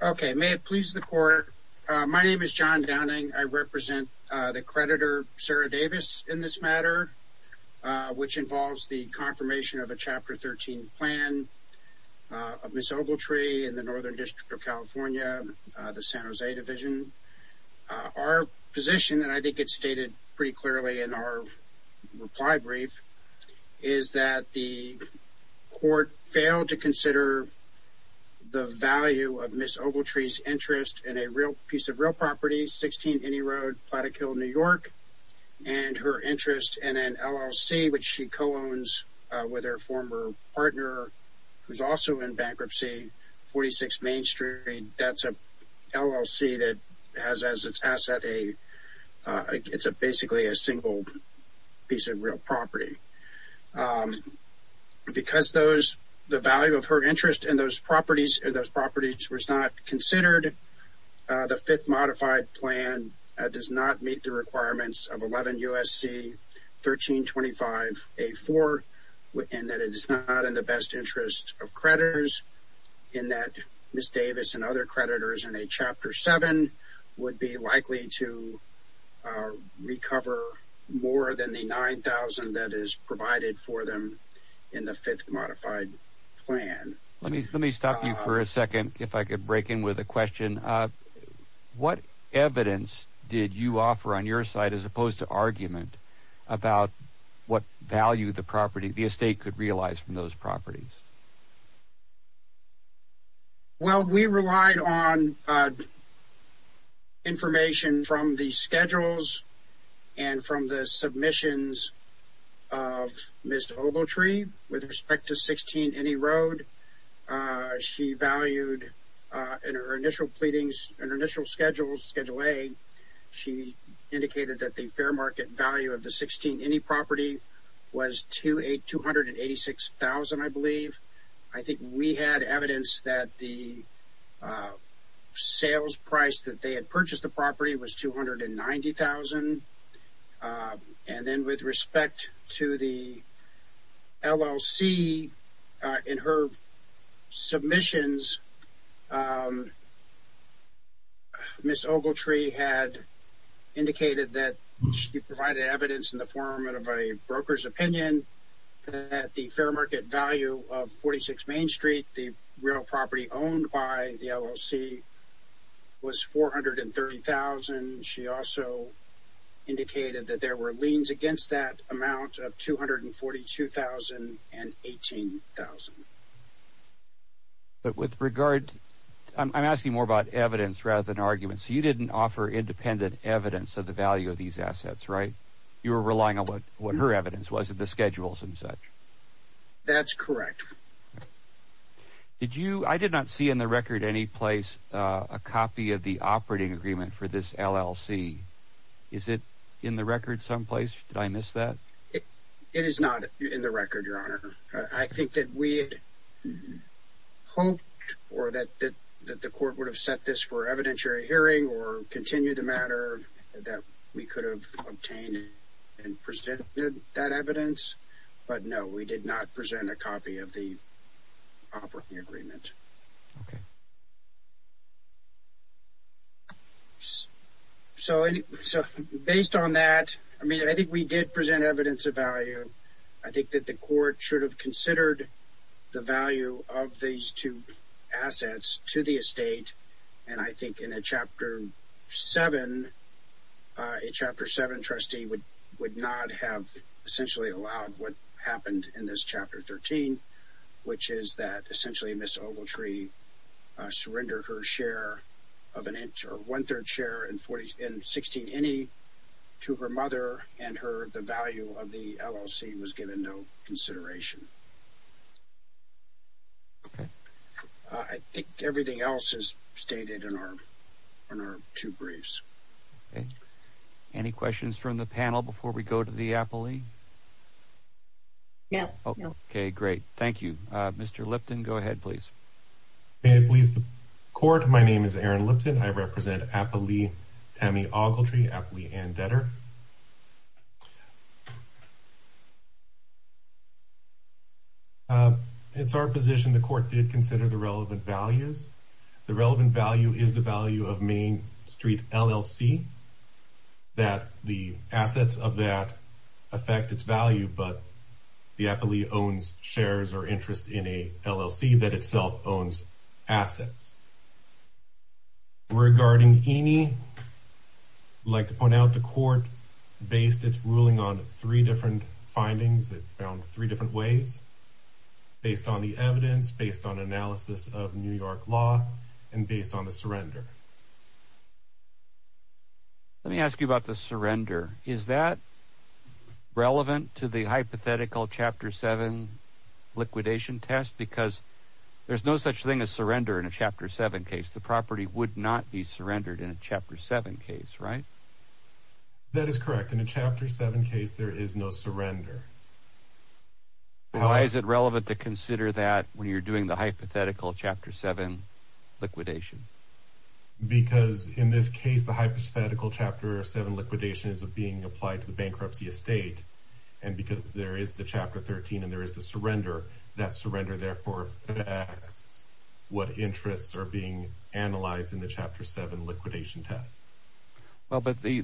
Okay. May it please the court. My name is John Downing. I represent the creditor, Sarah Davis, in this matter, which involves the confirmation of a Chapter 13 plan of Ms. Ogletree in the Northern District of California, the San Jose Division. Our position, and I think it's stated pretty clearly in our reply brief, is that the court failed to consider the value of Ms. Ogletree's interest in a piece of real property, 16 Inney Road, Plattekill, New York, and her interest in an LLC, which she co-owns with her former partner, who's also in bankruptcy, 46 Main Street. That's an LLC that has as its asset a, it's basically a single piece of real property. Because the value of her interest in those properties was not considered, the fifth modified plan does not meet the requirements of 11 U.S.C. 1325A4, and that it is not in the best interest of creditors, in that Ms. Davis and other creditors in a Chapter 7 would be likely to recover more than the $9,000 that is provided for them in the fifth modified plan. Let me stop you for a second, if I could break in with a question. What evidence did you offer on your side, as opposed to argument, about what value the property, the estate could realize from those properties? Well, we relied on information from the schedules and from the submissions of Ms. Ogletree, with respect to 16 Inney Road. She valued, in her initial pleadings, in her initial schedules, Schedule A, she indicated that the fair market value of the 16 Inney property was $286,000, I believe. I think we had evidence that the sales price that they had purchased the property was $290,000. And then with respect to the LLC, in her submissions, Ms. Ogletree had indicated that she provided evidence in the form of a broker's opinion that the fair market value of 46 Main Street, the real property owned by the LLC, was $430,000. She also indicated that there were liens against that amount of $242,000 and $18,000. But with regard, I'm asking more about evidence rather than arguments. You didn't offer independent evidence of the value of these assets, right? You were relying on what her evidence was of the schedules and such. That's correct. I did not see in the record any place a copy of the operating agreement for this LLC. Is it in the record someplace? Did I miss that? It is not in the record, Your Honor. I think that we had hoped or that the court would have set this for evidentiary hearing or continue the matter that we could have obtained and presented that evidence. But no, we did not present a copy of the operating agreement. Okay. So based on that, I mean, I think we should have considered the value of these two assets to the estate. And I think in a Chapter 7, a Chapter 7 trustee would not have essentially allowed what happened in this Chapter 13, which is that essentially Ms. Ogletree surrendered her share of an inch or one-third share in 16NE to her mother and the value of the LLC was given no consideration. Okay. I think everything else is stated in our two briefs. Okay. Any questions from the panel before we go to the appellee? No. Okay, great. Thank you. Mr. Lipton, go ahead, please. May it please the Court, my name is Aaron Lipton. I represent appellee Tammy Ogletree, appellee and debtor. It's our position the Court did consider the relevant values. The relevant value is the value of Main Street LLC, that the assets of that affect its value, but the appellee owns shares or interest in a LLC that itself owns assets. Regarding E&E, I'd like to point out the Court based its ruling on three different findings, it found three different ways, based on the evidence, based on analysis of New York law and based on the surrender. Let me ask you about the surrender. Is that relevant to the hypothetical Chapter 7 liquidation test? Because there's no such thing as surrender in a Chapter 7 case. The property would not be surrendered in a Chapter 7 case, right? That is correct. In a Chapter 7 case, there is no surrender. Why is it relevant to consider that when you're doing the hypothetical Chapter 7 liquidation? Because in this case, the hypothetical Chapter 7 liquidation is being applied to the bankruptcy estate, and because there is the Chapter 13 and there is the surrender, that surrender therefore affects what interests are being analyzed in the Chapter 7 liquidation test. Well, but the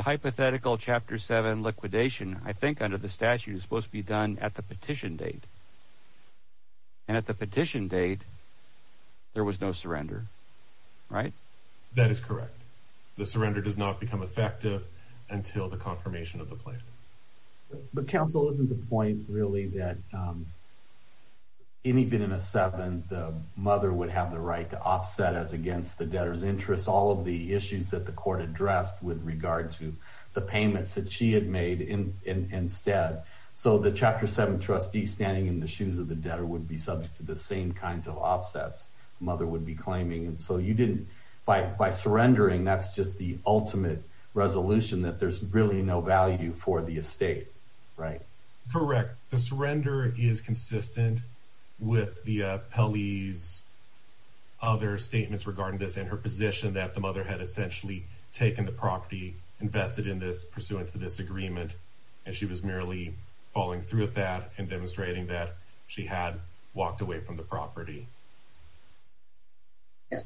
hypothetical Chapter 7 liquidation, I think under the statute, is supposed to be done at the petition date. And at the petition date, there was no surrender, right? That is correct. The surrender does not become effective until the confirmation of the plan. But counsel, isn't the point really that any bit in a 7, the mother would have the right to offset as against the debtor's interests all of the issues that the court addressed with regard to the payments that she had made instead. So the Chapter 7 trustee standing in the shoes of the debtor would be subject to the same kinds of offsets the mother would be claiming. And so you didn't, by surrendering, that's just the ultimate resolution that there's really no value for the estate, right? Correct. The surrender is consistent with the Pelley's other statements regarding this and her position that the mother had essentially taken the property, invested in this pursuant to this agreement, and she was merely following through with that and demonstrating that she had walked away from the property.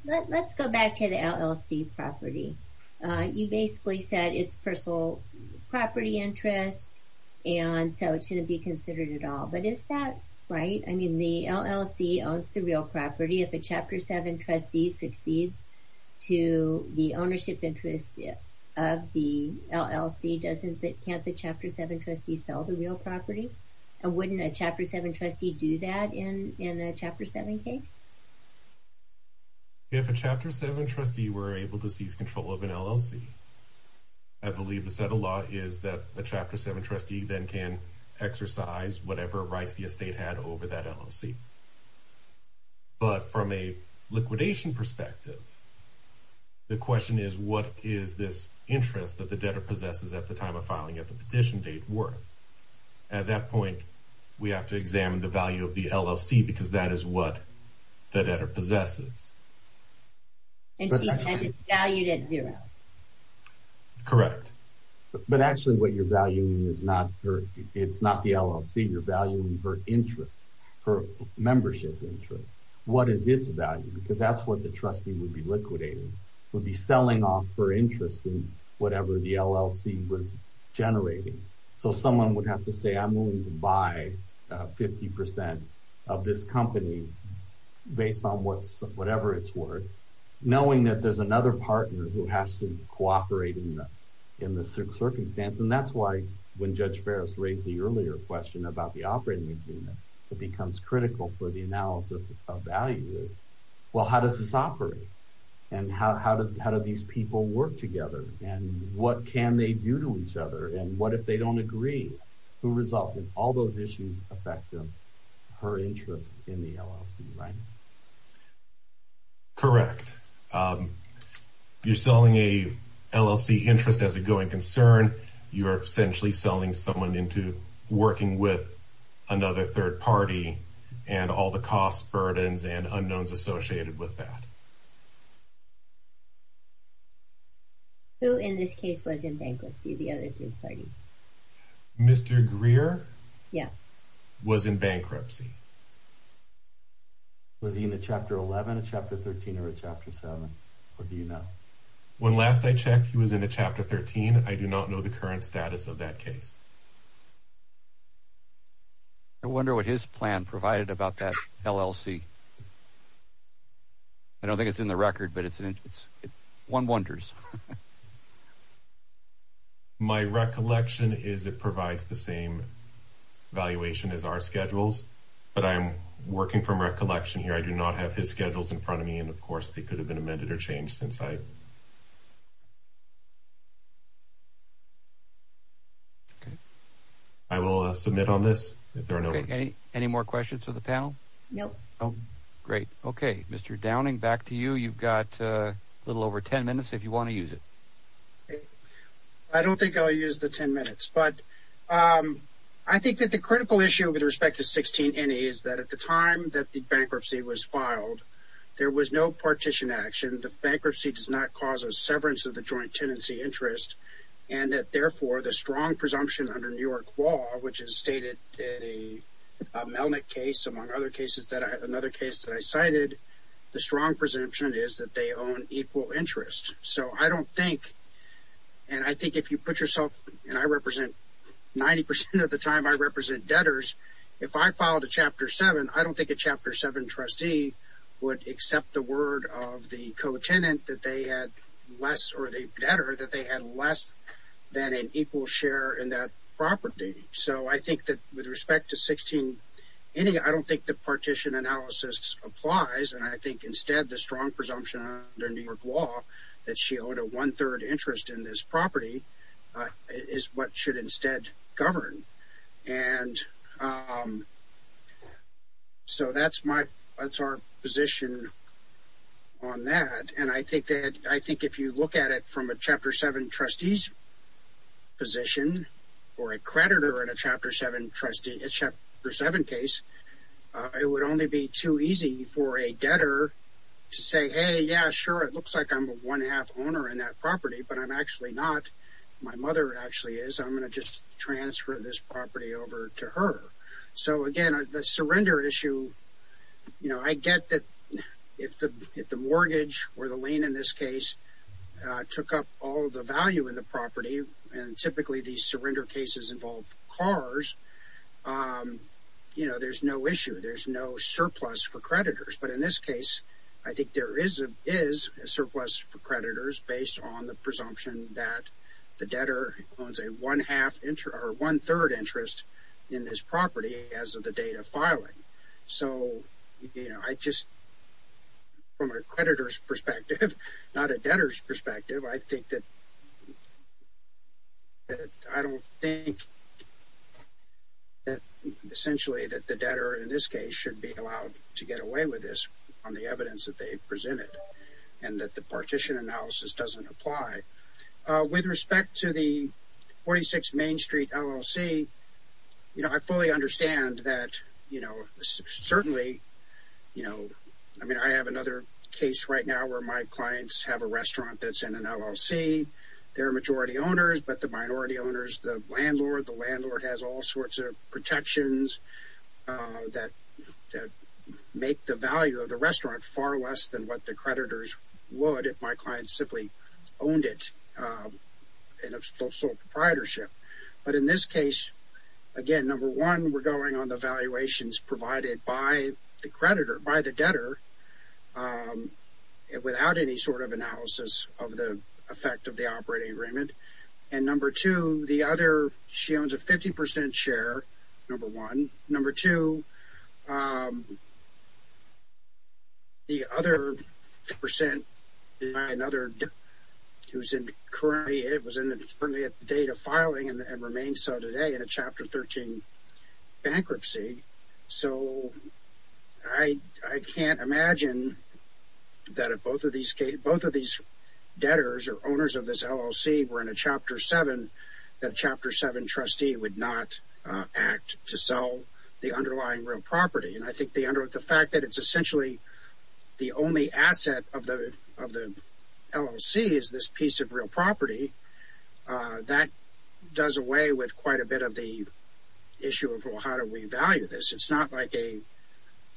Let's go back to the LLC property. You basically said it's personal property interest, and so it shouldn't be considered at all. But is that right? I mean, the LLC owns the real property. If a Chapter 7 trustee succeeds to the ownership interest of the LLC, can't the Chapter 7 trustee sell the real property? And wouldn't a Chapter 7 trustee do that in a Chapter 7 case? If a Chapter 7 trustee were able to seize control of an LLC, I believe the set of law is that a Chapter 7 trustee then can exercise whatever rights the estate had over that LLC. But from a liquidation perspective, the question is what is this interest that the debtor possesses at the time of filing, at the petition date, worth? At that point, we have to examine the value of the LLC because that is what the debtor possesses. And it's valued at zero. Correct. But actually what you're valuing is not the LLC. You're valuing her interest, her membership interest. What is its value? Because that's what the trustee would be liquidating, would be selling off her interest in whatever the LLC was generating. So someone would have to say, I'm willing to buy 50% of this company based on whatever it's worth, knowing that there's another partner who has to cooperate in the circumstance. And that's why when Judge Ferris raised the earlier question about the operating agreement, it becomes critical for the analysis of value is, well, how does this operate? And how do these people work together? And what can they do to each other? And what if they don't agree? Who resolved it? All those issues affect her interest in the LLC, right? Correct. You're selling a LLC interest as a going concern. You're essentially selling someone into working with another third party and all the costs, burdens, and unknowns associated with that. Who in this case was in bankruptcy? The other third party? Mr. Greer? Yeah. Was in bankruptcy. Was he in a Chapter 11, a Chapter 13, or a Chapter 7? Or do you know? When last I checked, he was in a Chapter 13. I do not know the current status of that case. I wonder what his plan provided about that LLC. I don't think it's in the record, but it's one wonders. My recollection is it provides the same valuation as our schedules, but I'm working from recollection here. I do not have his schedules in front of me. And of course, they could have been amended or changed. I will submit on this if there are no more questions. Any more questions for the panel? No. Great. Okay. Mr. Downing, back to you. You've got a little over 10 minutes if you want to use it. I don't think I'll use the 10 minutes, but I think that the critical issue with respect to 16NE is that at the time that the bankruptcy was filed, there was no partition action. The bankruptcy does not cause a severance of the joint tenancy interest, and that therefore the strong presumption under New York law, which is stated in the Melnick case, among other cases that I cited, the strong presumption is that they own equal interest. So I don't think, and I think if you put yourself, and I represent, 90 percent of the time I represent debtors, if I filed a Chapter 7, I don't think a Chapter 7 trustee would accept the word of the co-tenant that they had less, or the debtor, that they had less than an equal share in that property. So I think that with respect to 16NE, I don't think the partition analysis applies, and I think instead the strong presumption under New York law that she owed a one-third interest in this property is what should instead govern. And so that's my, that's our position on that, and I think that, I think if you look at it from a Chapter 7 trustee's position, or a creditor in a Chapter 7 case, it would only be too easy for a debtor to say, hey, yeah, sure, it looks like I'm a one-half owner in that property, but I'm actually not, my mother actually is, I'm going to just transfer this property over to her. So again, the surrender issue, you know, I get that if the mortgage, or the lien in this case, took up all of the value in the property, and typically these surrender cases involve cars, you know, there's no issue, there's no surplus for creditors. But in this case, I think there is a surplus for creditors based on the presumption that the debtor owns a one-third interest in this property as of the date of filing. So you know, I just, from a creditor's perspective, not a debtor's perspective, I think that, I don't think that essentially that the debtor in this case should be allowed to get away with this on the evidence that they've presented, and that the partition analysis doesn't apply. With respect to the 46 Main Street LLC, you know, I fully understand that, you know, certainly, you know, I mean, I have another case right now where my clients have a restaurant that's in an LLC, they're majority owners, but the minority owners, the landlord, the landlord has all sorts of protections that make the value of the restaurant far less than what the creditors would if my client simply owned it in a social proprietorship. But in this case, again, number one, we're going on the valuations provided by the creditor, without any sort of analysis of the effect of the operating agreement. And number two, the other, she owns a 50% share, number one. Number two, the other percent, another who's in currently, it was in the date of filing and remains so today in a Chapter 13 bankruptcy. So I can't imagine that if both of these debtors or owners of this LLC were in a Chapter 7, that a Chapter 7 trustee would not act to sell the underlying real property. And I think the fact that it's essentially the only asset of the LLC is this piece of It's not like a,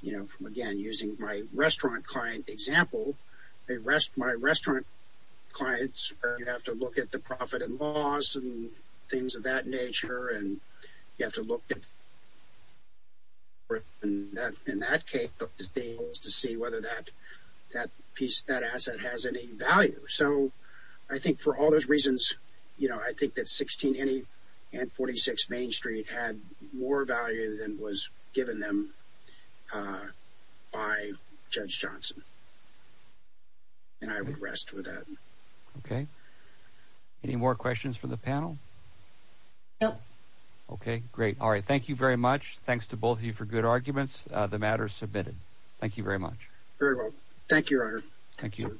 you know, again, using my restaurant client example, my restaurant clients are going to have to look at the profit and loss and things of that nature and you have to look in that case to see whether that piece, that asset has any value. So I think for all those reasons, you know, I think that 16 and 46 Main Street had more value than was given them by Judge Johnson and I would rest with that. Okay. Any more questions for the panel? Nope. Okay. Great. All right. Thank you very much. Thanks to both of you for good arguments. The matter is submitted. Thank you very much. Very well. Thank you, Your Honor.